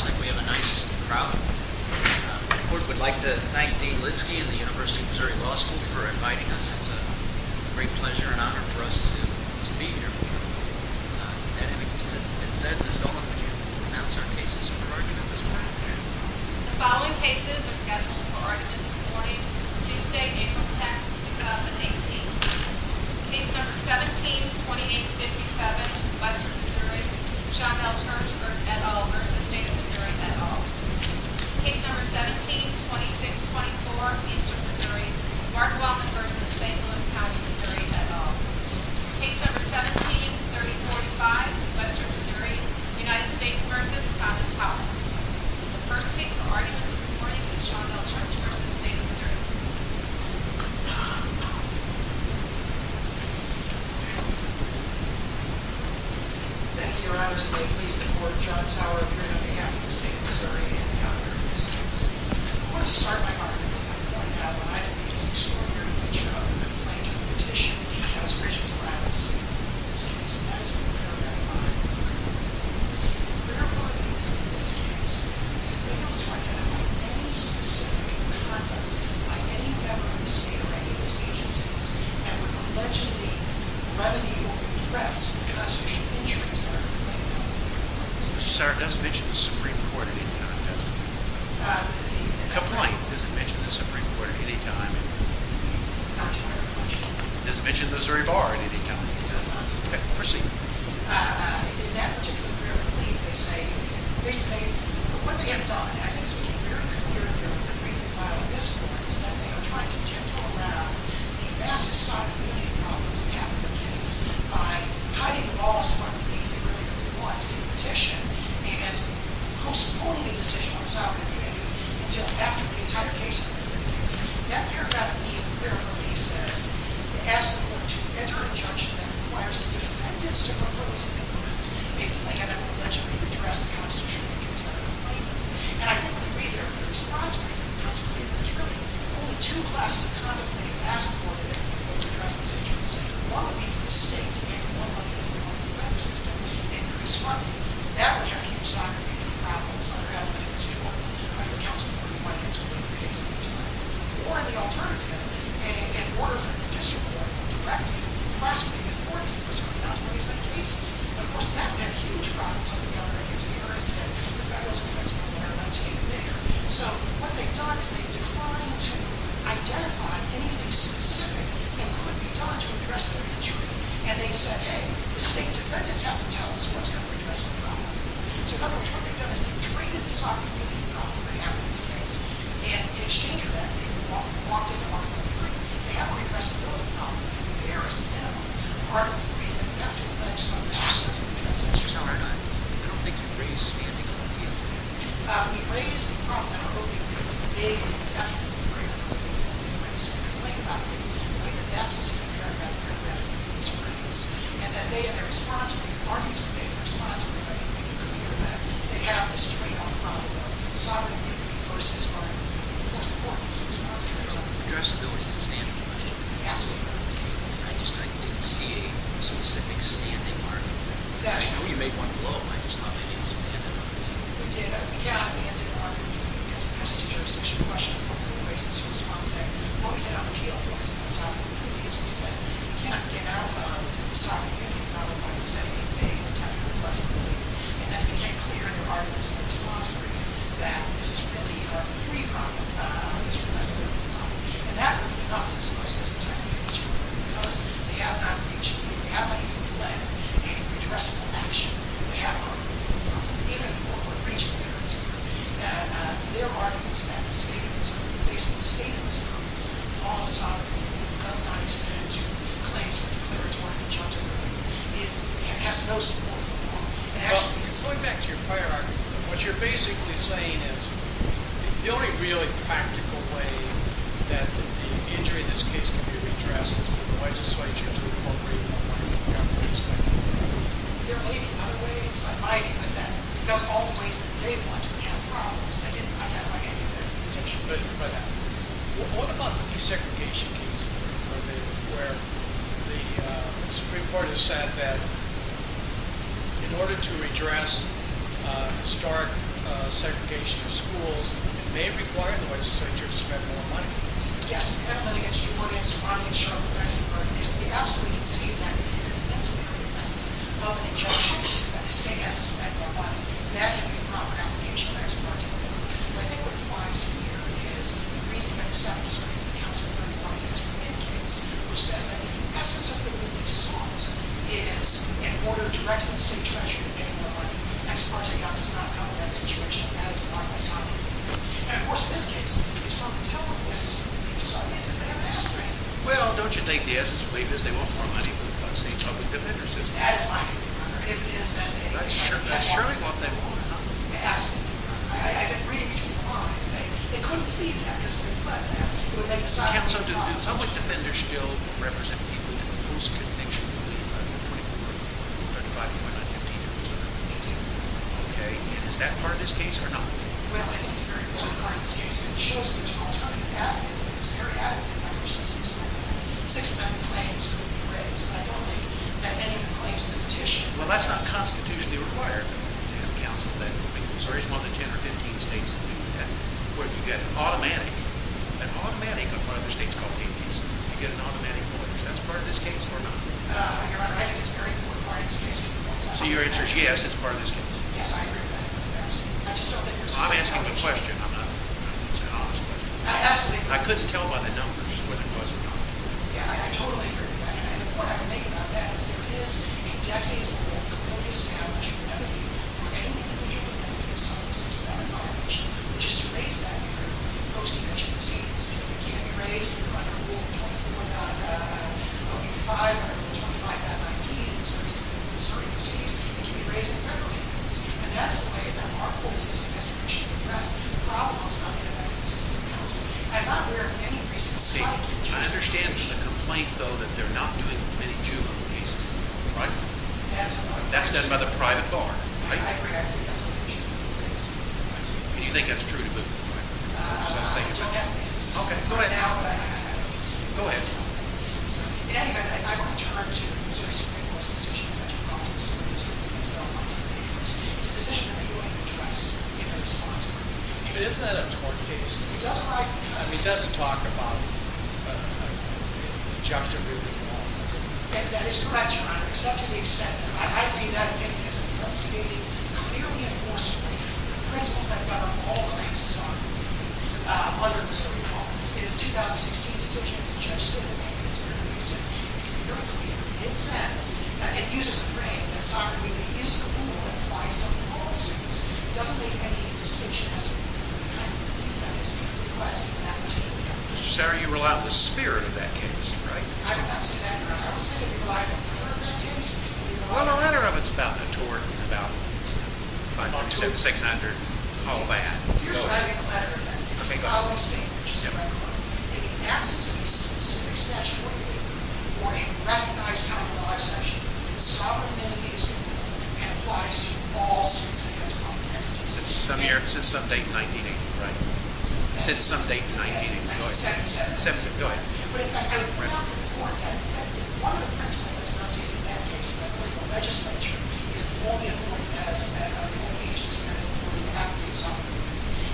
It looks like we have a nice crowd. The court would like to thank Dean Lidsky and the University of Missouri Law School for inviting us. It's a great pleasure and honor for us to be here. That being said, Ms. Dolan, would you announce our cases for argument this morning? The following cases are scheduled for argument this morning, Tuesday, April 10, 2018. Case No. 17-2857, Western Missouri, Shondel Church v. State of Missouri et al. Case No. 17-2624, Eastern Missouri, Mark Wellman v. St. Louis County, Missouri et al. Case No. 17-3045, Western Missouri, United States v. Thomas Howard. The first case for argument this morning is Shondel Church v. State of Missouri. Thank you, Your Honors. May it please the Court, John Sauer, appearing on behalf of the State of Missouri and the other witnesses. I want to start my argument by pointing out that I think there's an extraordinary feature of the complaint competition against Richard Morales in this case, and that is being paragraphed. Therefore, in this case, it fails to identify any specific content by any member of the State or any of its agencies that would allegedly remedy or address the constitutional injuries that are laid out in the report. Mr. Sauer, does it mention the Supreme Court at any time? The complaint, does it mention the Supreme Court at any time? Not to my recognition. Does it mention the Missouri Bar at any time? It does not. Okay, proceed. In that particular brief, they say, basically, what they have done, and I think it's been very clear in their briefing file this morning, is that they are trying to tiptoe around the massive sovereignty problems that happen in the case by hiding the laws to what we believe they really want in the petition and postponing a decision on sovereignty until after the entire case has been reviewed. That paragraph, therefore, he says, asks the Court to enter an injunction that requires the defendants to propose and implement a plan that would allegedly address the constitutional injuries that are complained of. And I think when you read their response, I think it comes clear that there's really only two classes of conduct that they've asked the Court to enter to address these injunctions. One would be from the state, and one would be as a part of the federal system, and to respond to them. That would have huge sovereignty problems under Alabama's jurisdiction, under counsel for compliance with the case on their side. Or, the alternative, in order for the district court to direct it, to classify the authorities in the Missouri not to raise the cases. But, of course, that would have huge problems under the other, against Harris and the Federalist Defense Clause. They're not seeing it there. So, what they've done is they've declined to identify anything specific that could be done to address the injury. And they said, hey, the state defendants have to tell us what's going to address the problem. So, in other words, what they've done is they've treated the sovereignty problem that happened in this case, and in exchange for that, they've walked into Article III. They haven't addressed the building problems. They've embarrassed them. Part of Article III is that we have to avenge sovereignty. I don't think you've raised standing opium. We've raised the problem of opium. We have a big, indefinite degree of opium that we've raised. We've complained about it. We've complained that that's what's going to drive that program. That's what it is. And that they are responsible. The arguments that they have are responsible. They have this trade-off problem of sovereignty versus sovereignty. That's important. Addressability is a standard. Absolutely. I just didn't see a specific standing argument. I know you made one below. I just thought maybe it was a mandate argument. We did. We can't have a mandate argument. It's a jurisdiction question. I don't think we've raised it so responsibly. What we did on appeal, focusing on sovereignty, is we said, we can't get out of the sovereignty problem by presenting a big, indefinite responsibility. And then we became clear in the arguments that were responsible for that. This is really a three-pronged responsibility problem. And that would be enough to dispose of this entire case. Because they have not reached the point. They have not even led a redressable action. They have argued for the problem. Even for what reached the parents here. And their argument is that the state of this country, the basic state of this country is law and sovereignty. It does not extend to claims for declaratory conjunctivism. It has no support for law. Well, going back to your prior argument, what you're basically saying is, the only really practical way that the injury in this case can be redressed is through the legislature to incorporate more government spending. There may be other ways, but my view is that, because all the ways that they want to have problems, they didn't identify any of that protection. But what about the desegregation case, where the Supreme Court has said that, in order to redress historic segregation of schools, it may require the legislature to spend more money. Yes, and I don't know if that gets your audience, but I'm going to start with Axelberg. Because we absolutely can see that it is a necessary effect of an injunction. That the state has to spend more money. That can be a proper application of Axelberg to the court. But I think what it requires here is, the reason that it's not in the Supreme Court, it comes with a report against him in the case, which says that the essence of the relief sought is an order directed to the state treasurer to pay more money. Ex parte, that does not cover that situation. And that is the part that's not in the relief. And of course, in this case, it's from the telephone. The essence of the relief sought is because they haven't asked for anything. Well, don't you think the essence of the relief is they want more money from the state public defender system? That is my view, Your Honor. If it is, then they want more money. That's surely what they want, huh? Absolutely, Your Honor. I've been reading between the lines. They couldn't plead that because if they pled that, it would make the side of the law... Well, counsel, do public defenders still represent people in the post-conviction relief? Okay, and is that part of this case or not? Well, I think it's a very important part of this case. It shows that there's an alternative avenue. It's very adequate. Obviously, six of them have claims to be raised, but I don't think that any of the claims to the petition... Well, that's not constitutionally required to have counsel then. I mean, as far as more than 10 or 15 states, where you get an automatic... An automatic of one of the states called Haiti, you get an automatic voyage. That's part of this case or not? Your Honor, I think it's a very important part of this case. So your answer is yes, it's part of this case? Yes, I agree with that. I just don't think there's... I'm asking a question. I'm not... It's an honest question. I absolutely agree. I couldn't tell by the numbers where there was a violation. Yeah, I totally agree with that. And the point I would make about that is there is a decades-old clearly established avenue for any individual who is convicted of something that seems to have a violation, which is to raise that for a post-dementia disease. It can be raised under Rule 21.55, under Rule 25.19 in the service of a disorderly disease. It can be raised in a federal case. And that is the way that our court system has traditionally addressed the problem that's not been affected by citizens' counsel. I'm not aware of any recent... See, I understand from the complaint, though, that they're not doing many juvenile cases anymore, right? That is another question. That's done by the private bar, right? Yeah, I agree. I think that's another issue with the complaints. And you think that's true to the point? I don't have a case that's been solved now, but I think it's... Go ahead. So, in any event, I want to turn to the Missouri Supreme Court's decision in the Metropolitan Supreme Court against Bill Fulton. It's a decision that they're going to address in their response court. But isn't that a tort case? It does... I mean, it doesn't talk about an injunctive re-reform, does it? That is correct, Your Honor, except to the extent that I agree that it is enunciating clearly and forcibly the principles that govern all claims of sovereignty under the Supreme Court. It is a 2016 decision. It's a judge-student amendment. It's very recent. It's very clear. It says... It uses the phrase that sovereignty is the rule and applies to all suits. It doesn't make any distinction as to what kind of view that is. It doesn't do that in particular. So you rely on the spirit of that case, right? I do not say that, Your Honor. I would say that we rely on the power of that case. Well, the latter of it is about a tort. About 500, 600, all of that. Here's what I mean by the latter of it. Okay, go ahead. It's the following statement, which is correct, Your Honor. In the absence of a specific statutory view or a recognized common law exception, sovereignty is the rule and applies to all suits against a common entity. Since some year... Since some date in 1980. Right. Since some date in 1980. Go ahead. Go ahead. But in fact, I would point out for the Court that one of the principles that's not stated in that case is that political legislature is the only authority that has that full agency, that is, the political advocate sovereignty,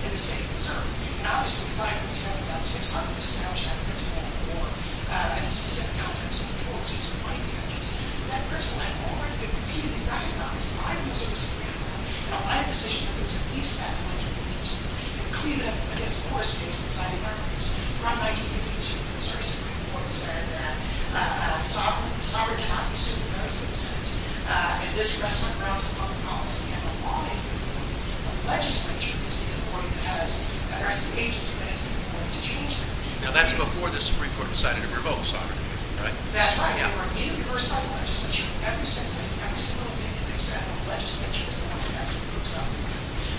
in the state of Missouri. And obviously, 5% of that 600 is established by the principle of the law in the specific context of the tort suits and money marriages. But that principle had already been repeatedly recognized by the Missouri Supreme Court in a lot of decisions that there was a peace pact in 1952, and Cleveland, again, of course, from 1952, the Missouri Supreme Court said that the sovereign cannot be sued without its consent. And this rests on grounds of public policy and the law in New York. But legislature is the authority that has... or has the agency that has the authority to change that. Now, that's before the Supreme Court decided to revoke sovereignty. Right? That's right. They were immediately versed by the legislature ever since then. Every single opinion they set on legislature is the one that has to be resolved.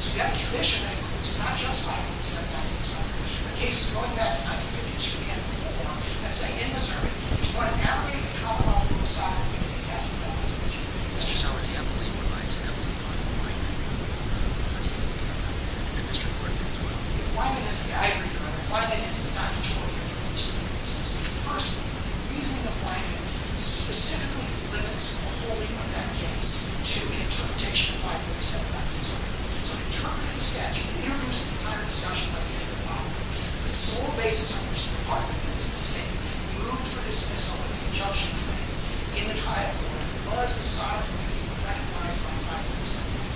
So we have a tradition that includes not just 5% of that 600, but cases going back to 1952 and before, let's say in Missouri, you want to navigate the commonwealth through a sovereign committee, it has to go through the legislature. Mr. Schwartz, do you have a lead on why it's not a lead on Wyman? How do you think about that? And Mr. Horton, as well. Wyman is... I agree with you on that. Wyman is not a tort lawyer. Mr. Horton. First of all, the reasoning of Wyman specifically limits the holding of that case to an interpretation of 5% of that 600. So he interpreted the statute. He introduced the entire discussion by saying that Wyman, the sole basis on which the Department of Justice moved for dismissal of the injunction claim in the triad court, was the sovereign committee recognized by 5% of that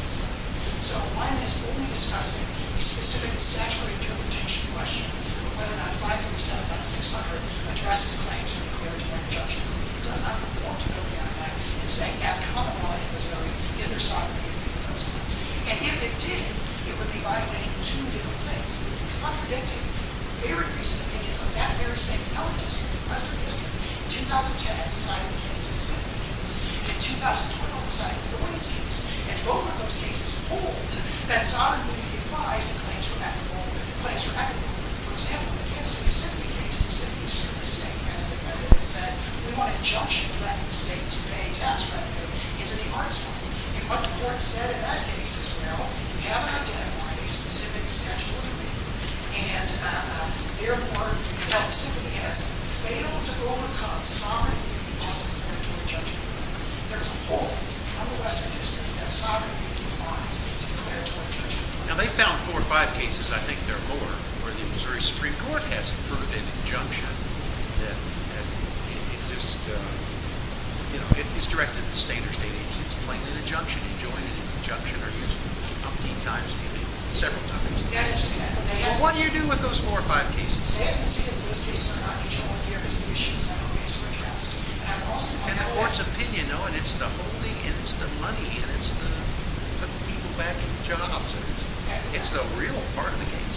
600. So Wyman is only discussing a specific statutory interpretation question of whether or not 5% of that 600 addresses claims to the declaratory injunction. He does not report to the OPM and say at commonwealth in Missouri is there sovereign committee in those cases. And if it did, it would be violating two different things. Contradicting very recent opinions of that very same elitist in the western district in 2010 deciding the Kansas City Symphony case and in 2012 deciding the Doyne case and both of those cases hold that sovereign committee applies to claims for equitable, claims for equitable. For example, the Kansas City Symphony case is simply still the same. As the defendant said, we want injunction of that mistake to pay tax revenue into the arts court. And what the court said in that case is well, we have identified a specific statutory interpretation and therefore the Kansas City Symphony has failed to overcome sovereign committee on declaratory injunction. There's a hole from the western district that sovereign committee defines declaratory injunction. Now they found four or five cases, I think there are more, where the Missouri Supreme Court has approved an injunction that is directed to state or state agencies and it's plain an injunction. Enjoying an injunction or using it a few times, several times. What do you do with those four or five cases? They have to see that those cases are not controlled here because the issue is not always addressed. And the court's opinion, oh, and it's the holding and it's the money and it's the putting people back in jobs. It's the real part of the case.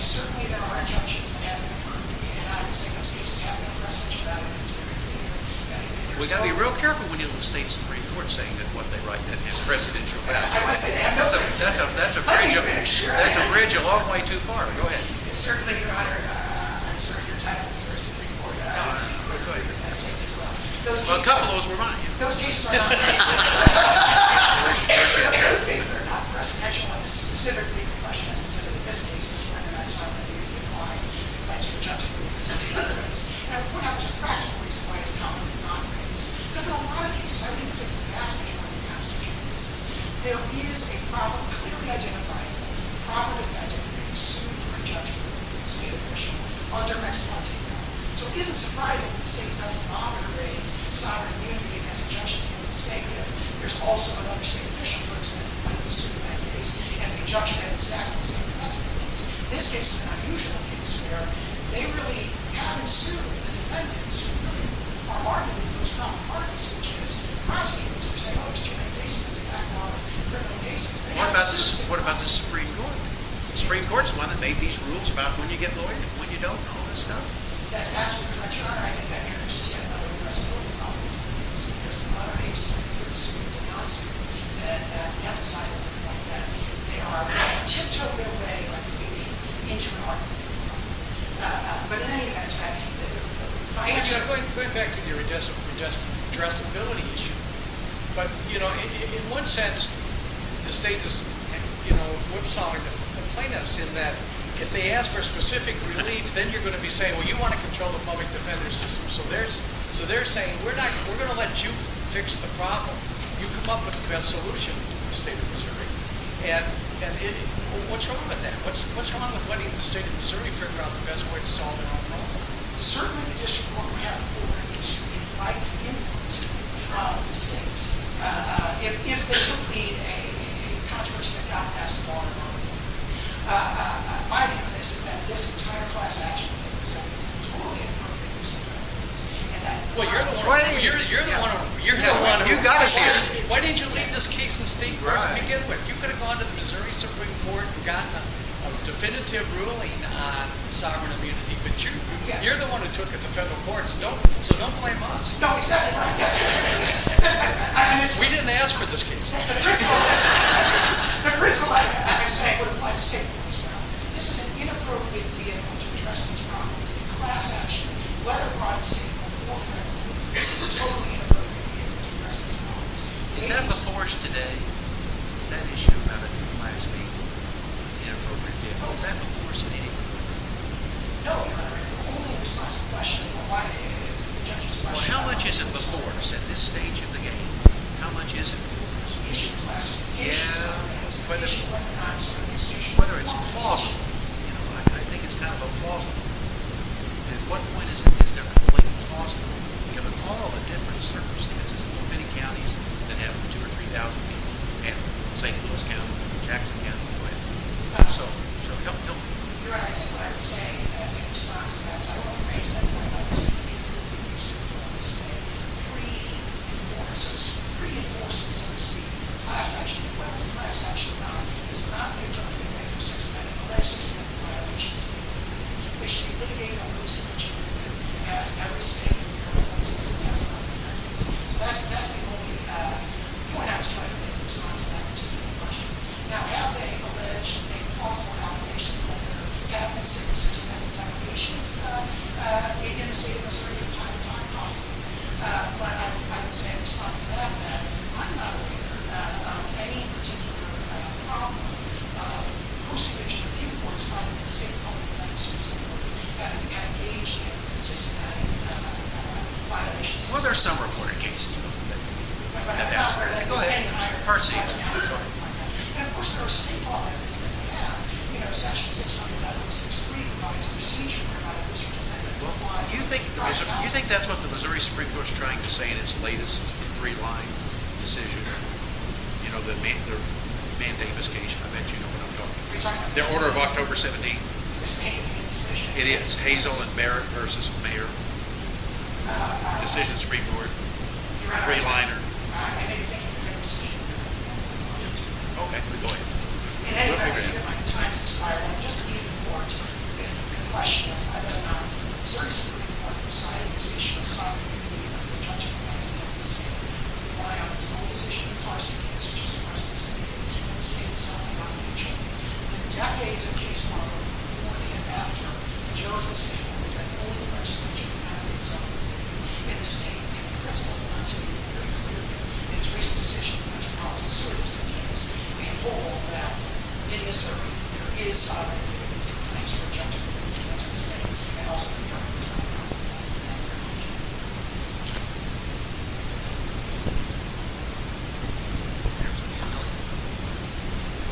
Certainly there are injunctions that have been affirmed and I would say those cases have no pressage about it. It's very clear. We've got to be real careful when you look at states and Supreme Courts saying that what they write has precedential value. I want to say that. That's a bridge a long way too far. Go ahead. Certainly, Your Honor, I'm sorry, your title is Mississippi, Florida. Well, a couple of those were mine. Those cases are not precedential. Those cases are not precedential on the specific question that's considered in this case as to whether or not sovereign committee applies a declension of judgment in respect to other things. And I would point out there's a practical reason why it's commonly not raised because in a lot of cases, I think it's a passage on the constitutional basis, there is a problem clearly identifying a proper defendant who may be sued for injunction by a state official under Mexican law. So it isn't surprising that the state doesn't often raise sovereign committee as a judgment in the state if there's also another state official who might be sued in that case and the injunction had exactly the same effect in that case. This case is an unusual case where they really haven't sued the defendants who really are the most common parties which is prosecuting those who say, oh, it's juvenile basis, it's a criminal basis. What about the Supreme Court? The Supreme Court is the one that made these rules about when you get lawyers and when you don't and all this stuff. That's absolutely right. I think that interests you in a lot of the rest of the legal problems that we're facing. There's a lot of agencies that are sued and not sued that have decided something like that. They are, they tiptoe their way into an argument for the problem. But in any event, I think that all the things with this. I don't know what I'm doing with this. I don't know what I'm doing with this. I don't know what I'm doing with this. I don't know what I'm doing with this. I don't what I'm doing with this. I don't know what I'm doing with this. We didn't ask for this case. The principle I would say would apply to state courts as well. This is an inappropriate vehicle to address these problems. In class action, whether brought to state court or federal court, this is a totally inappropriate vehicle to address these problems. Is that the force today? Is that issue about a new class being an inappropriate vehicle? Is that the force of any court? No, Your Honor. We're only in response to questions. Well, how much is it the force at this stage of the game? How much is it the force? Issue classifications. Yeah. Issue what we're not sort of institutionalizing. Whether it's plausible. You know, I think it's kind of a plausible. At what point is there a point plausible, given all the different circumstances in many counties that have 2,000 or 3,000 people, and St. Louis County, Jackson County. So, help me. You're right. I think what I would say, in response to that, is I would raise that point. I would say three enforcers. Three enforcers, so to speak. Class action, whether it's a class action or not, has not been done in any systematic or alleged systematic violations to make the vehicle. They should be litigated on those who mention the vehicle as ever saying the vehicle doesn't exist and it has not been identified. So, that's the only point I was trying to make in response to that particular question. Now, have they alleged any plausible allegations that there have been simple systematic violations in the state of Missouri from time to time, possibly. But, I would say in response to that, that I'm not aware of any particular problem. Most of which, in a few reports, might have been state law, but not in St. Louis, that we have engaged in systematic violations. Well, there are some reported cases. But I'm not aware of that. Go ahead. And, of course, there are state law evidence that we have. You know, section 600, item 6.3 provides a procedure to provide a district amendment. Well, do you think that's what the Missouri Supreme Court is trying to say in its latest three-line decision? You know, the mandamus case. I bet you know what I'm talking about. The order of October 17th. Is this made in the decision? It is. Hazell and Barrett v. Mayor. Decision of the Supreme Court. Three-liner. I don't have anything in the Supreme Court decision. Okay. Go ahead. In any event, I see that my time has expired. I'm just leaving the court with a question. I don't know if the Missouri Supreme Court has decided this issue of sovereign immunity after a judgment made against the state by, on its own decision, the class of case which is supposed to stand between the state itself and our region. In decades of case law, before, and after, the jurors have stated that only the legislature can have its own opinion. And the state, in principle, has not stated it very clearly. In its recent decision, the Metropolitan Surgeon's has stated, in full, that in Missouri, there is sovereign immunity thanks to a judgment made against the state, and also the government has not made that recommendation. Good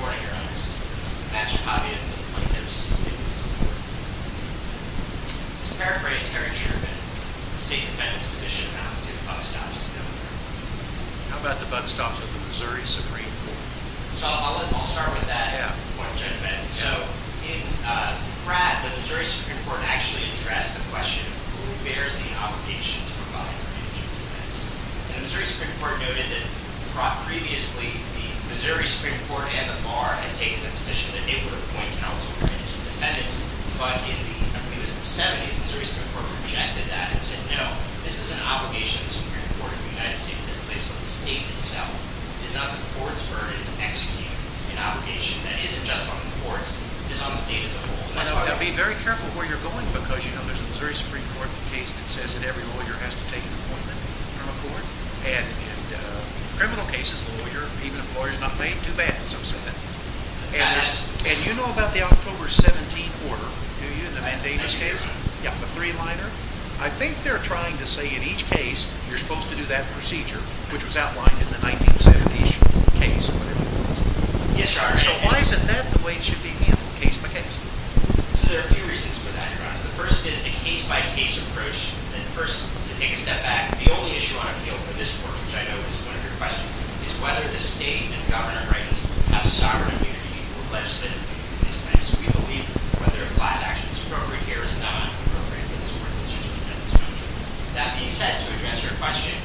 morning, Your Honors. I'm Patrick Javier from the Planned Parenthood Supreme Court. To paraphrase Harry Sherman, the State Defendant's position amounts to the bug stops of the Missouri Supreme Court. How about the bug stops of the Missouri Supreme Court? So, I'll start with that point of judgment. So, in Pratt, the Missouri Supreme Court actually addressed the question of who bears the obligation to provide for indigent defendants. And the Missouri Supreme Court noted that previously, the Missouri Supreme Court and the Bar had taken the position that they would appoint counsel for indigent defendants, but in the, I believe it was the 70s, the Missouri Supreme Court rejected that and said, no, this is an obligation of the Supreme Court of the United States that is placed on the state itself. It's not the court's burden to execute an obligation that isn't just on the courts, it's on the state as a whole. Now, be very careful where you're going, because, you know, there's a Missouri Supreme Court case that says that every lawyer has to take an appointment from a court, and in criminal cases, a lawyer, even an employer, is not made too bad in some settings. And you know about the October 17 order, do you, in the Van Davis case? Yeah, the three-liner? I think they're trying to say in each case, you're supposed to do that procedure, which was outlined in the 1970s case. Yes, Your Honor. So why is it that the blade should be handled case by case? So there are a few reasons for that, Your Honor. The first is a case-by-case approach, and first, to take a step back, the only issue on appeal for this court, which I know is one of your questions, is whether the state and the governor have sovereign immunity or legislative immunity. We believe whether a class action is appropriate here is not appropriate for this court. That being said, to address your question,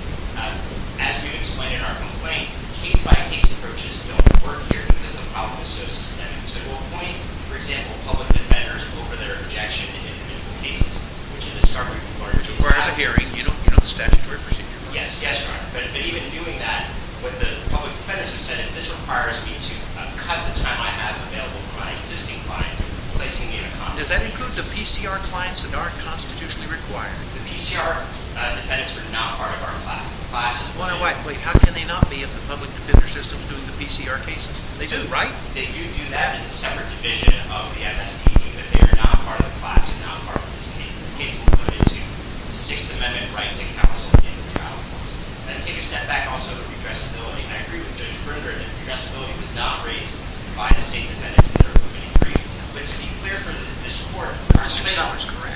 as we've explained in our complaint, case-by-case approaches don't work here because the problem is so systemic. So we'll appoint, for example, public defenders over their objection in individual cases, which in this case, we require... Which requires a hearing. You know the statutory procedure. Yes, Your Honor. But even doing that, what the public defenders have said is this requires me to cut the time I have available for my existing clients, placing me in a... Does that include the PCR clients that aren't constitutionally required? The PCR defendants are not part of our class. The class is... Wait, how can they not be if the public defender system is doing the PCR cases? They do, right? They do do that. It's a separate division of the MSPB, but they are not part of the class, they're not part of this case. This case is limited to the Sixth Amendment right to counsel in the trial courts. And to take a step back, also, the redressability, and I agree with Judge Brinder that redressability was not raised by the state defendants in their opinion brief. But to be clear for this court... Mr. Sellers, correct.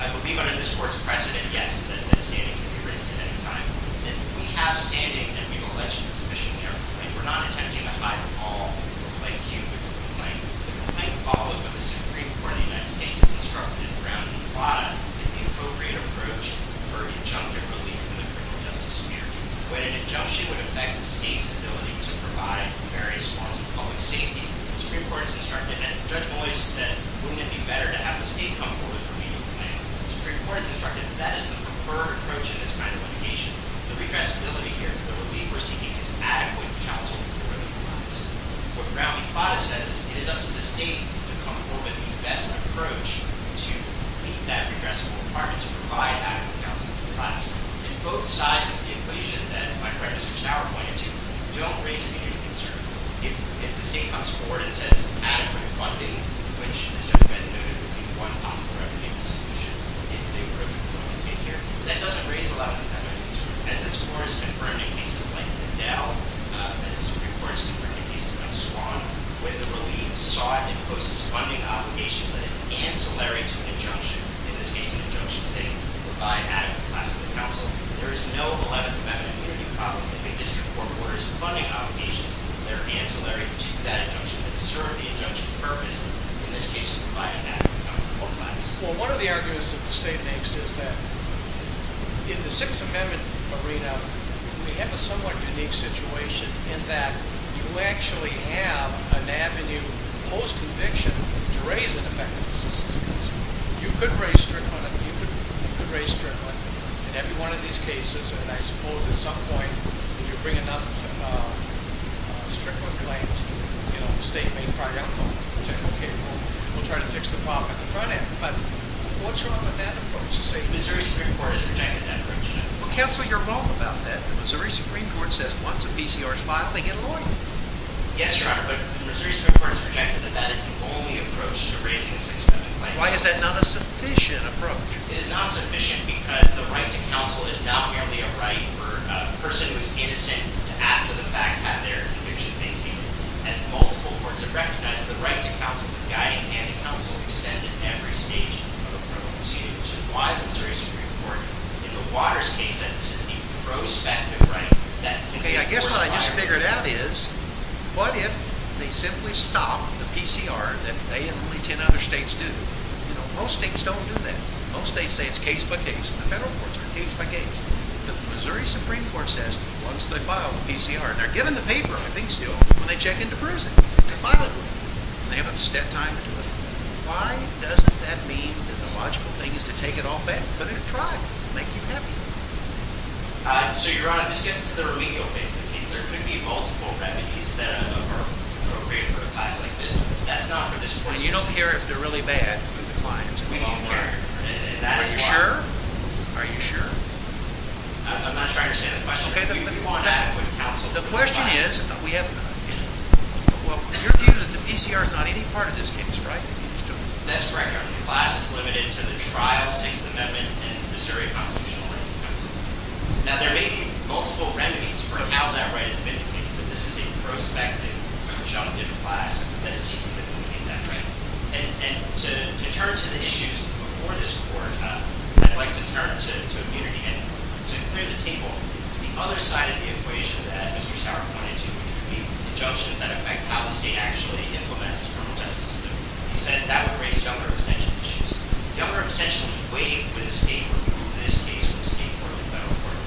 I believe under this court's precedent, yes, that standing can be raised at any time. And we have standing, and we will legend it sufficiently in our complaint. We're not attempting to hide them all. We'll play cute with the complaint. The complaint follows what the Supreme Court of the United States has instructed in Brown v. Plata as the appropriate approach for injunctive relief from the criminal justice sphere. When an injunction would affect the state's ability to provide various forms of public safety, the Supreme Court has instructed, and Judge Moyes said, wouldn't it be better to have the state come forward with a remedial plan? The Supreme Court has instructed that that is the preferred approach in this kind of litigation. The redressability here, the relief we're seeking, is adequate counsel for the defense. What Brown v. Plata says is it is up to the state to come forward with the best approach to meet that redressable requirement, to provide adequate counsel for the defense. And both sides of the equation that my friend Mr. Sauer pointed to don't raise any concerns. If the state comes forward and says this is adequate funding, which, as Judge Bennett noted, would be one possible remedial solution, is the approach we're going to take here. That doesn't raise a lot of concerns. As this Court has confirmed in cases like Bedell, as the Supreme Court has confirmed in cases like Swan, when the relief saw it imposes funding obligations that is ancillary to an injunction, in this case an injunction saying provide adequate class of counsel, if a district court orders funding obligations that are ancillary to that injunction and serve the injunction's purpose, in this case it would provide an adequate counsel for the defense. Well, one of the arguments that the state makes is that in the Sixth Amendment arena we have a somewhat unique situation in that you actually have an avenue post-conviction to raise an effective assistance of counsel. You could raise Strickland, you could raise Strickland, in every one of these cases, and I suppose at some point if you bring enough Strickland claims the state may cry out and say okay, we'll try to fix the problem at the front end. But what's wrong with that approach? The Missouri Supreme Court has rejected that approach. Well, counsel, you're wrong about that. The Missouri Supreme Court says once a PCR is filed they get a lawyer. Yes, Your Honor, but the Missouri Supreme Court has rejected that that is the only approach to raising a Sixth Amendment claim. Why is that not a sufficient approach? It is not sufficient because the right to counsel is not merely a right for a person who is innocent to after the fact have their conviction maintained. As multiple courts have recognized, the right to counsel, the guiding hand of counsel, extends at every stage of a criminal proceeding, which is why the Missouri Supreme Court in the Waters case said this is a prospective right that can be forced by a lawyer. Okay, I guess what I just figured out is what if they simply stop the PCR that they and only ten other states do? You know, most states don't do that. Most states say it's case by case. The federal courts are case by case. The Missouri Supreme Court says once they file the PCR, they're given the paper, I think still, when they check into prison to file it. They have a set time to do it. Why doesn't that mean that the logical thing is to take it off back, put it in trial, make you happy? So, Your Honor, this gets to the legal face of the case. There could be multiple remedies that are appropriate for a class like this. That's not for this court to say. And you don't care if they're really bad for the clients. We do care. Are you sure? Are you sure? I'm not sure I understand the question. The question is... Your view is that the PCR is not any part of this case, right? That's correct, Your Honor. The class is limited to the trial, Sixth Amendment, and Missouri Constitutional Rights. Now, they're making multiple remedies for how that right is vindicated, but this is a prospective, conjunctive class that is seeking to vindicate that right. And to turn to the issues before this court, I'd like to turn to immunity. And to clear the table, the other side of the equation that Mr. Sauer pointed to, which would be the junctions that affect how the state actually implements its criminal justice system, he said that would raise Governor Extension issues. Governor Extension was waiting for the state to remove this case from the state court and federal court.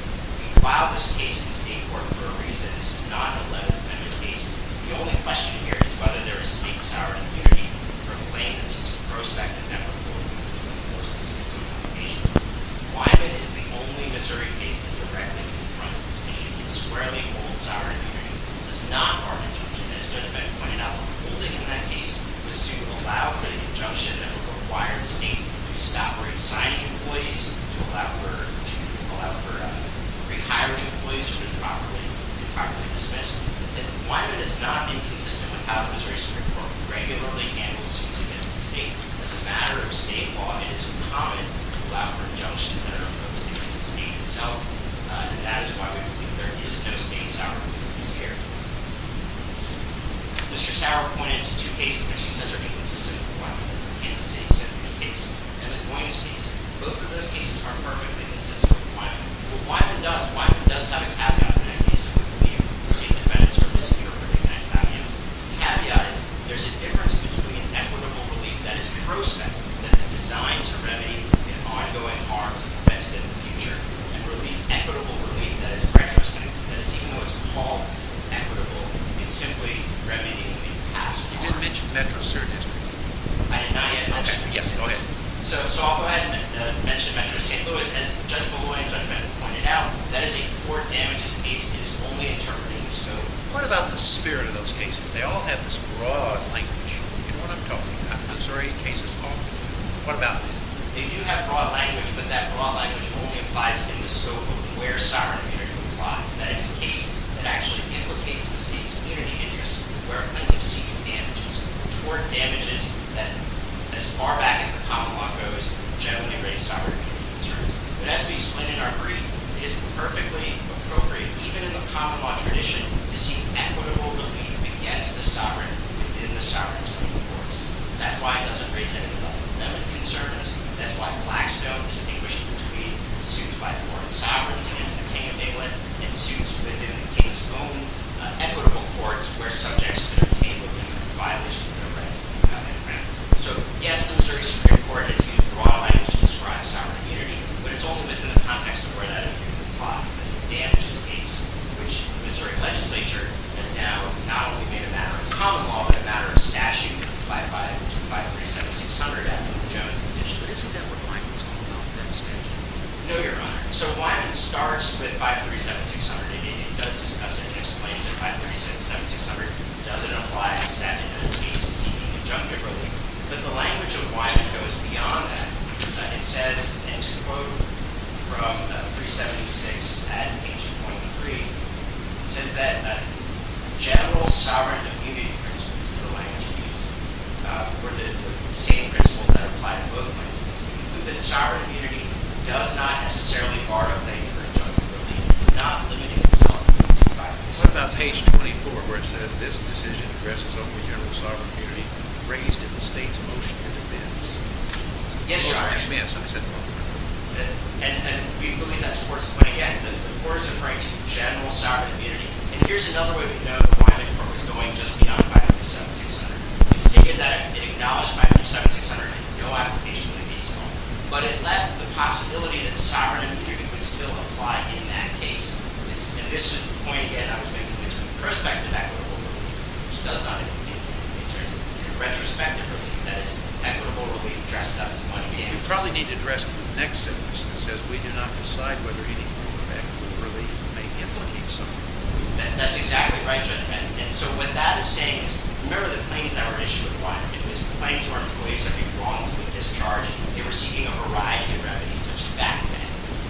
We filed this case in state court for a reason. This is not an Eleventh Amendment case. The only question here is whether there is state, Sauer, and immunity for a claim that's a prospective member of the court to enforce the state's own obligations. Wyman is the only Missouri case that directly confronts this issue. It squarely holds Sauer and immunity. It is not our conjunction. As Judge Bennett pointed out, the whole thing in that case was to allow for the conjunction that would require the state to stop re-assigning employees, to allow for re-hiring employees who have been properly dismissed. Wyman is not inconsistent with how the Missouri Supreme Court regularly handles suits against the state. As a matter of state law, it is uncommon to allow for injunctions that are opposed against the state itself, and that is why we believe there is no state, Sauer, or immunity here. Mr. Sauer pointed to two cases where he says they're inconsistent with Wyman. There's the Kansas City Symphony case and the Goynes case. Both of those cases are perfectly consistent with Wyman. What Wyman does, Wyman does have a caveat in that case and we believe the state defendants are insecure in that caveat. The caveat is there's a difference between an equitable relief that is prospective, that is designed to remedy ongoing harms and preventative in the future, and really equitable relief that is retrospective, that is, even though it's all equitable, it's simply remedying past harms. You didn't mention Metro-City District. I did not yet. Okay, yes, go ahead. So I'll go ahead and mention Metro-St. Louis. As Judge Molloy and Judge Bennett pointed out, that is a court damages case that is only interpreting the scope. What about the spirit of those cases? They all have this broad language in what I'm talking about. I'm sorry, cases often do. What about them? They do have broad language, but that broad language only applies in the scope of where sovereign immunity applies. That is a case that actually implicates the state's community interest where a plaintiff seeks damages. Toward damages that, as far back as the common law goes, generally raise sovereign immunity concerns. But as we explained in our brief, it is perfectly appropriate, even in the common law tradition, to seek equitable relief against the sovereign within the sovereign's own courts. That's why it doesn't raise any level of concerns. That's why Blackstone distinguished between suits by foreign sovereigns against the king of England and suits within the king's own equitable courts where subjects have been obtained or even violated their rights. So, yes, the Missouri Supreme Court has used broad language to describe sovereign immunity, but it's only within the context of where that immunity applies. That's a damages case, which the Missouri legislature has now not only made a matter of common law, but a matter of statute by 537-600 at Luke Jones's issue. But isn't that what Wyman is calling out, that statute? No, Your Honor. So Wyman starts with 537-600 and he does discuss it and explains it. 537-600 doesn't apply to statute. The case is heeding injunctive relief. But the language of Wyman goes beyond that. It says, and to quote from 376 at page 2.3, it says that general sovereign immunity principles is the language used for the same principles that apply to both plaintiffs. The sovereign immunity does not necessarily bar a claim for injunctive relief. It's not limiting itself to 537-600. What about page 24, where it says, this decision addresses only general sovereign immunity raised in the state's motion in advance? Yes, Your Honor. Oh, I missed. I said... And we believe that's the worst point. The court is referring to general sovereign immunity. And here's another way we know why the court was going just beyond 537-600. It's stated that it acknowledged 537-600 and no application would be so long. But it left the possibility that sovereign immunity would still apply in that case. And this is the point, again, I was making, which is prospective equitable relief, which does not include injunctive relief. It's retrospective relief, that is, equitable relief dressed up as money gain. We probably need to address the next sentence. It says we do not decide whether any form of equitable relief may implicate sovereign immunity. That's exactly right, Judge Bennett. And so what that is saying is, remember the claims that were issued with Wyman. It was claims where employees have been wrongfully discharged. They're receiving a variety of revenues, such as back pay.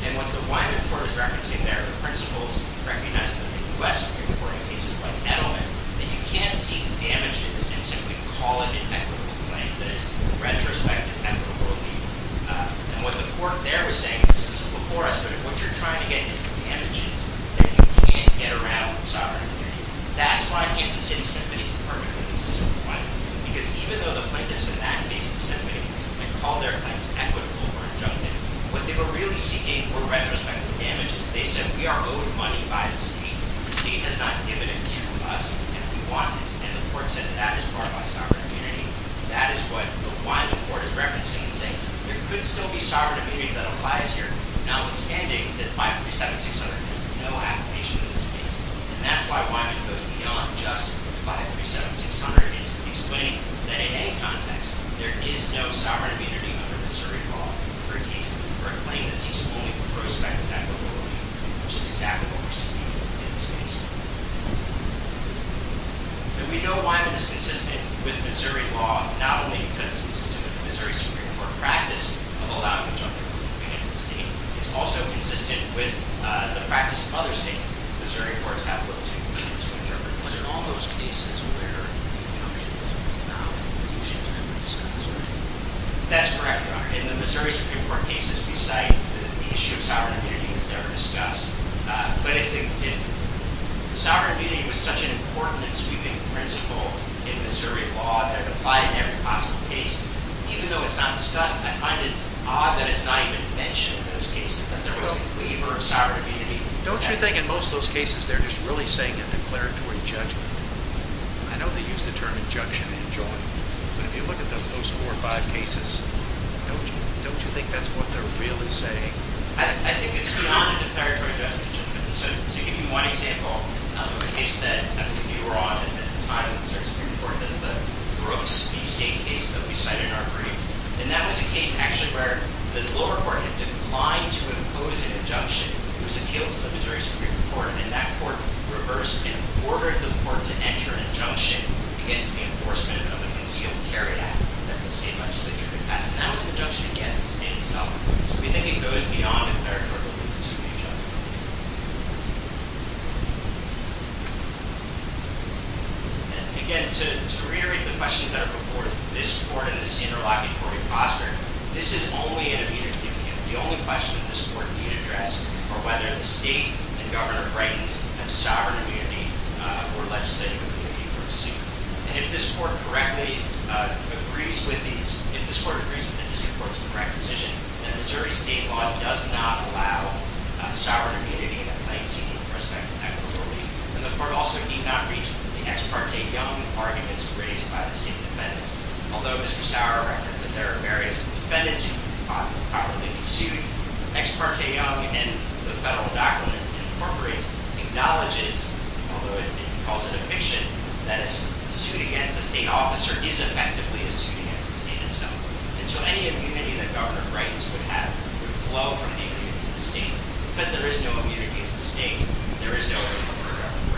And what the Wyman court is referencing there, the principles recognized by the U.S. Supreme Court in cases like Edelman, that you can't seek damages and simply call an inequitable claim that is retrospective equitable relief. And what the court there was saying, this is before us, but what you're trying to get is the damages that you can't get around sovereign immunity. That's why Kansas City Symphony is perfectly consistent with Wyman. Because even though the plaintiffs in that case, the symphony, might call their claims equitable or injunctive, what they were really seeking were retrospective damages. They said we are owed money by the state. The state has not given it to us, and we want it. And the court said that is barred by sovereign immunity. That is what the Wyman court is referencing and saying there could still be sovereign immunity that applies here, notwithstanding that 537-600 is no application in this case. And that's why Wyman goes beyond just 537-600. It's explaining that in any context, there is no sovereign immunity under Missouri law for a claim that seeks only retrospective equitable relief, which is exactly what we're seeing in this case. And we know Wyman is consistent with Missouri law, not only because it's consistent with the Missouri Supreme Court practice of allowing injunctive relief against the state, it's also consistent with the practice of other states, which the Missouri courts have little to no reason to interpret. Was it in all those cases where injunctive relief was really discussed? That's correct, Your Honor. In the Missouri Supreme Court cases, we cite that the issue of sovereign immunity was never discussed. But if sovereign immunity was such an important and sweeping principle in Missouri law that it applied in every possible case, even though it's not discussed, I find it odd that it's not even mentioned in those cases that there was a waiver of sovereign immunity. Don't you think in most of those cases they're just really saying a declaratory judgment? I know they use the term injunction in joint, but if you look at those four or five cases, don't you think that's what they're really saying? I think it's beyond a declaratory judgment. So to give you one example, there was a case that you were on at the time in the Missouri Supreme Court. That was the Brooks v. State case that we cited in our brief. And that was a case actually where the lower court had declined to impose an injunction. It was appealed to the Missouri Supreme Court, and that court reversed and ordered the court to enter an injunction against the enforcement of a concealed carry act that the state legislature had passed. And that was an injunction against the state itself. So we think it goes beyond a declaratory judgment. And again, to reiterate the questions that are before this court in this interlocutory posture, this is only an immediate opinion. The only question that this court can address are whether the state and Governor Brighton's have sovereign immunity or legislative immunity for the suit. And if this court correctly agrees with these, if this court agrees with the district court's correct decision, then Missouri state law does not allow sovereign immunity and the court also need not reach the ex parte young arguments raised by the state defendants. Although Mr. Sauer reckoned that there are various defendants who could probably be sued, ex parte young in the federal document incorporates, acknowledges, although he calls it a fiction, that a suit against a state officer is effectively a suit against the state itself. And so any immunity that Governor Brighton's would have would flow from the immunity of the state. Because there is no immunity of the state, there is no immunity of Governor Brighton's.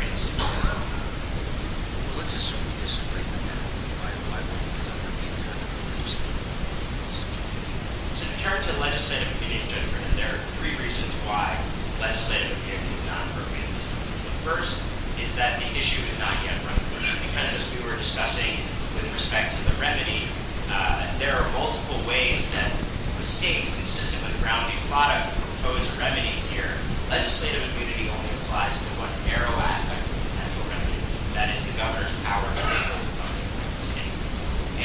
So to turn to legislative immunity and judgment, there are three reasons why legislative immunity is not appropriate. The first is that the issue is not yet run clear. Because as we were discussing with respect to the remedy, there are multiple ways that the state consistently grounded a lot of the proposed remedy here. Legislative immunity only applies to one narrow aspect of the potential remedy. That is the governor's power to regulate the funding of the state.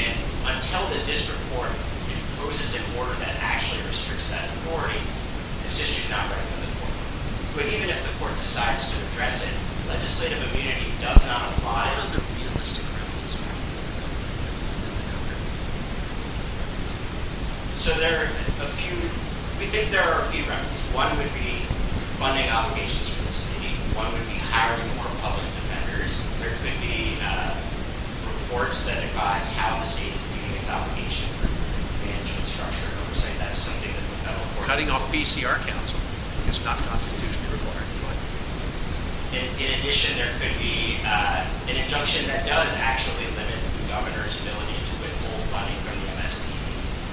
And until the district court imposes an order that actually restricts that authority, this issue is not running in the court. But even if the court decides to address it, legislative immunity does not apply to realistic remedies. So there are a few... we think there are a few remedies. One would be funding obligations for the state. One would be hiring more public defenders. There could be reports that advise how the state is meeting its obligation for management structure oversight. That's something that the federal court... Cutting off PCR counseling is not constitutionally required. In addition, there could be an injunction that does actually limit the governor's ability to withhold funding from the MSP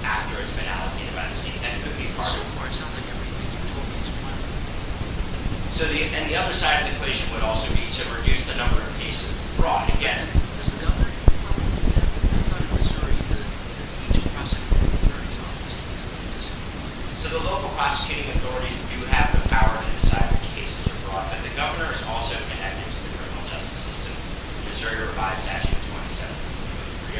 after it's been allocated by the state. That could be part of... So far, it sounds like everything you've told me is fine. So the... and the other side of the equation would also be to reduce the number of cases brought again. Does the governor inform the governor of Missouri that the future prosecutorial authority is on this case? So the local prosecuting authorities do have the power to decide which cases are brought. But the governor is also connected to the criminal justice system. The Missouri Revised Statute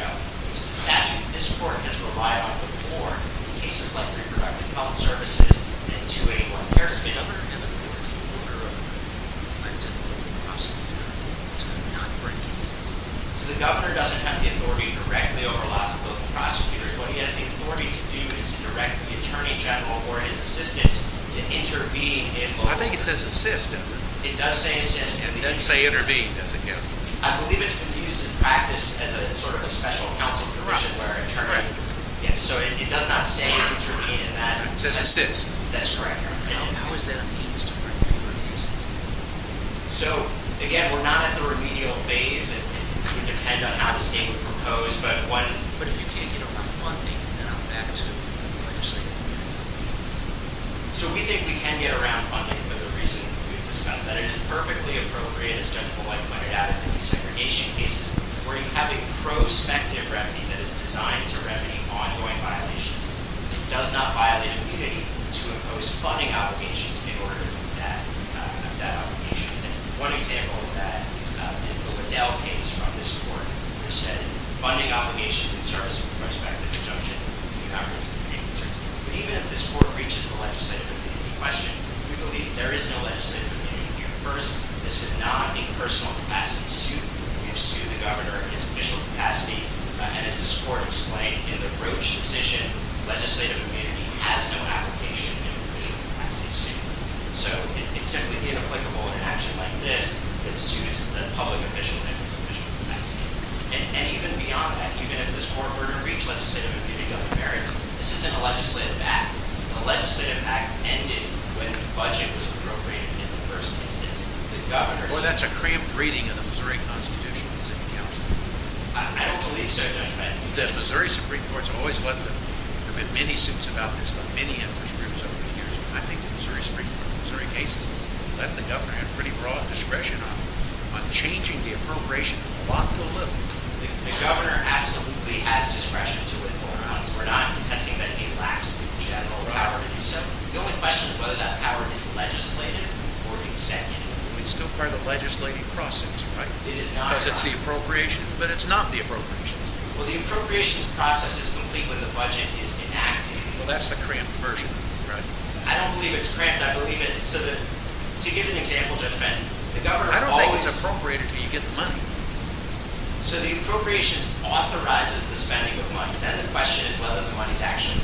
27.3.0. It's a statute this court has relied on before in cases like reproductive health services and 281. Does the governor have authority over the prosecutorial authority to not bring cases? So the governor doesn't have the authority directly over lots of local prosecutors. What he has the authority to do is to direct the attorney general or his assistants to intervene in local... I think it says assist, doesn't it? It does say assist. It doesn't say intervene, does it, counsel? I believe it's been used in practice as a sort of a special counsel position where an attorney... Correct. Yeah, so it does not say intervene in that. It says assist. That's correct. And how is that a means to bring people to cases? So, again, we're not at the remedial phase. It would depend on how the state would propose, but what... But if you can't get around funding, then I'm back to the legislative committee. So we think we can get around funding for the reasons we've discussed, that it is perfectly appropriate, as Judge Boyd pointed out, in the desegregation cases where you have a prospective remedy that is designed to remedy ongoing violations. It does not violate immunity to impose funding obligations in order to meet that obligation. And one example of that is the Liddell case from this court, which said funding obligations in service of a prospective injunction, but even if this court reaches the legislative committee in question, we believe there is no legislative committee. First, this is not a personal capacity suit. We have sued the governor in his official capacity, and as this court explained in the Roach decision, legislative committee has no application in an official capacity suit. So it's simply inapplicable in an action like this that sues the public official in his official capacity. And even beyond that, even if this court were to reach legislative and committee government merits, this isn't a legislative act. A legislative act ended when the budget was appropriated in the first instance. The governor... Well, that's a cramped reading of the Missouri Constitutional Committee Council. I don't believe so, Judge Boyd. The Missouri Supreme Court has always let the... There have been many suits about this in many interest groups over the years. I think the Missouri Supreme Court in Missouri cases let the governor have pretty broad discretion on changing the appropriation The governor absolutely has discretion to withhold monies. We're not contesting that he lacks the general power to do so. The only question is whether that power is legislative or executive. It's still part of the legislative process, right? It is not. Because it's the appropriation, but it's not the appropriations. Well, the appropriations process is complete when the budget is enacted. Well, that's the cramped version, right? I don't believe it's cramped. I believe it's... To give an example, Judge Benton, the governor always... So the appropriations authorizes the spending of money. Then the question is whether the money is actually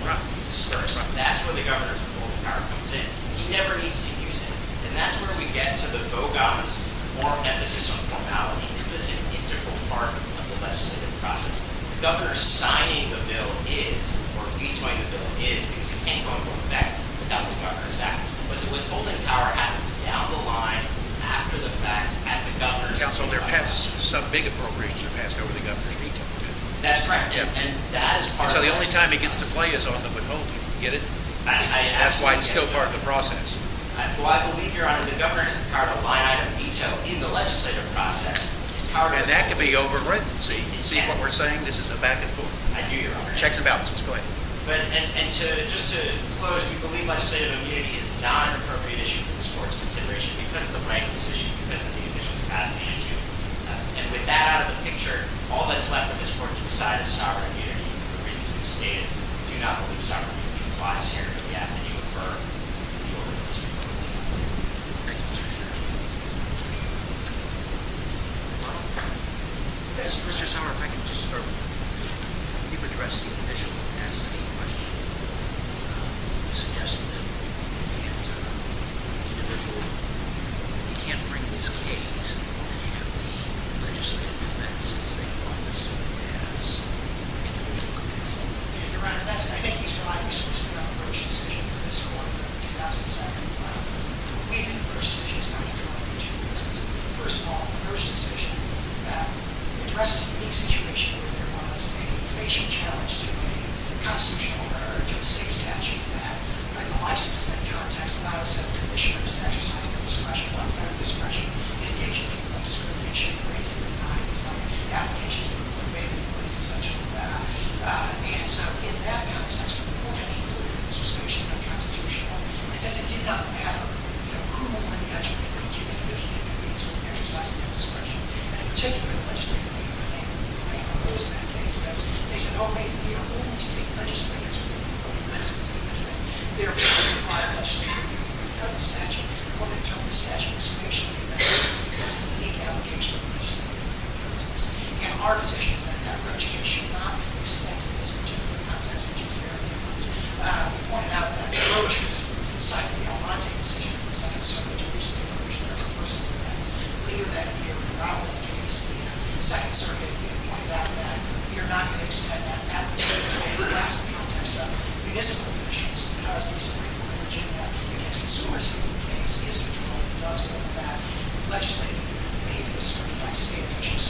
disbursed. That's where the governor's withholding power comes in. He never needs to use it. And that's where we get to the vogons for emphasis on formality. Is this an integral part of the legislative process? The governor signing the bill is, or rejoining the bill is, because it can't go into effect without the governor's act. But the withholding power happens down the line after the fact, at the governor's veto. Counsel, there are some big appropriations that are passed over the governor's veto. That's correct. And that is part of the process. So the only time he gets to play is on the withholding. Get it? I absolutely get it. That's why it's still part of the process. Well, I believe, Your Honor, the governor has the power to line out a veto in the legislative process. And that could be overwritten. See what we're saying? This is a back and forth. I do, Your Honor. Go ahead. And just to close, we believe legislative immunity is not an appropriate issue for this court's consideration because of the rank decision, because of the conditional capacity issue. And with that out of the picture, all that's left for this court to decide is sovereign immunity for the reasons we've stated. We do not believe sovereign immunity applies here. We ask that you refer the order to Mr. Summers. Thank you, Mr. Chairman. Mr. Summers, if I can just, you've addressed the conditional capacity question. You suggested that you can't bring this case, or that you have any legislative defense, since they applied this sort of as an immunity request. Your Honor, that's, I think he's right. He's supposed to have a first decision in this court for the 2007 plan. We think the first decision is going to draw from two reasons. First of all, the first decision addresses a unique situation where there was a facial challenge to a constitutional, or to a state statute that, by the license of that context, allowed a set of commissioners to exercise their discretion, one kind of discretion, and engage in a form of discrimination where it didn't refine these kind of applications that were put in, but it's essential to that. And so in that context, what the court had concluded, and this was basically a constitutional, is that it did not matter, you know, who won the statute, whether it was a human being or a human being, to exercise their discretion. And in particular, the legislative immunity, they proposed in that case as, they said, only state legislators are going to be able to impose this kind of immunity. They're going to apply a legislative immunity because of the statute. What they've done with the statute is patiently amend it because of the unique application of the legislative immunity. And our position is that that approach should not be extended in this particular context, which is very different. We pointed out that the approach was the side of the Almonte decision of the Second Circuit to reduce the inclusion of interpersonal events. Later that year, in the Romland case, the Second Circuit pointed out that we are not going to extend that in the context of municipal officials, because this is a very important agenda against consumers who, in this case, is controlled and does go to bat. Legislative immunity may be restricted by state officials.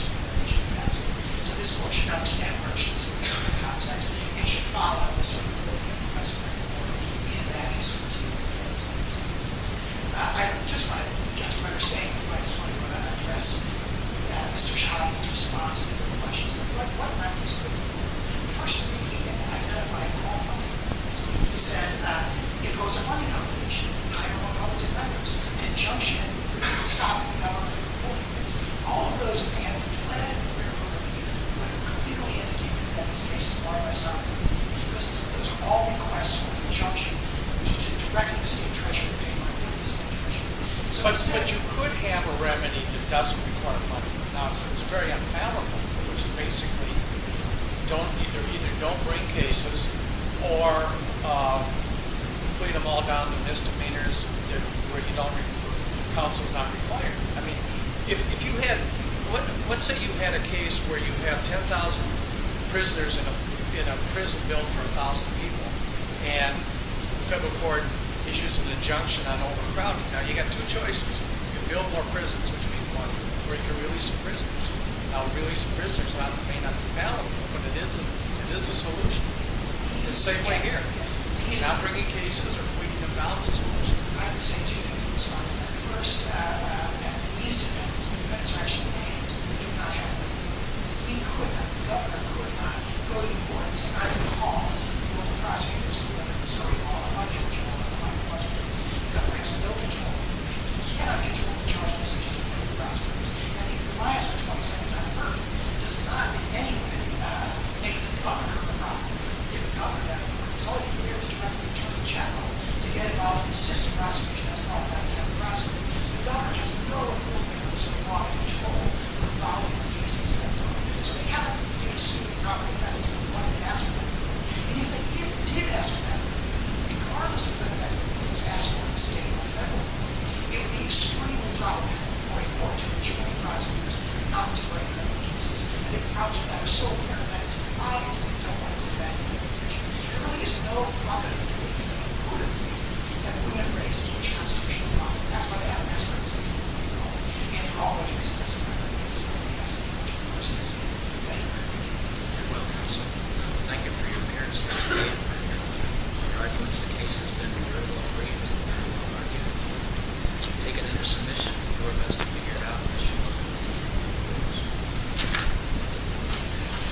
So this court should not extend merchants in a particular context. It should follow the sort of rule of law that was very important in that consumer's view of the United States. I just want to address Mr. Schottman's response to your question. He said, what records could be used for subpoenaing and identifying fraud? He said, impose a money combination, hire more public defenders, and injunction, stop the government from holding things. All of those can be planned and prepared for relief, but it could legally end up being, in this case, a bar on my side. Those are all requests for injunction to directly misdemeanor treasurer. But you could have a remedy that doesn't require money. It's very unfavorable, which basically, either don't bring cases or put them all down to misdemeanors where counsel is not required. Let's say you had a case where you have 10,000 prisoners in a prison built for 1,000 people, and the federal court issues an injunction on overcrowding. Now, you've got two choices. You can build more prisons, which means more money, or you can release the prisoners. Now, releasing prisoners may not be valid, but it is a solution. It's not bringing cases or putting them down is a solution. I would say two things in response to that. First, that these defendants, the defendants who are actually named, do not have the authority. The governor could not go to the courts and either cause the local prosecutors to deliver the story of all of my children or all of my relatives. The governor has no control over them. He cannot control the charges against the local prosecutors. And the compliance with 279-1 does not, in any way, make the governor a problem. If the governor had the authority, all he would do is turn to the attorney general to get involved in the system of prosecution that's brought about by the federal prosecutors. The governor has no authority to do so. He has no control over the filing of cases at that time. So they haven't been suing the property defendants in the way they asked for that authority. And if they did ask for that authority, regardless of whether that authority was asked for by the state or the federal court, it would be extremely problematic for a court to join prosecutors not to bring federal cases. And the problems with that are so paramount that it's obvious they don't want to defend the limitation. There really is no property to be included that wouldn't have raised a huge constitutional problem. That's why they haven't asked for it. And for all those reasons, it's not going to be able to solve the case that the attorney general is asking for. Thank you. Thank you for your appearance here today. In your arguments, the case has been very well framed. We'll take it into submission. The court has to figure it out.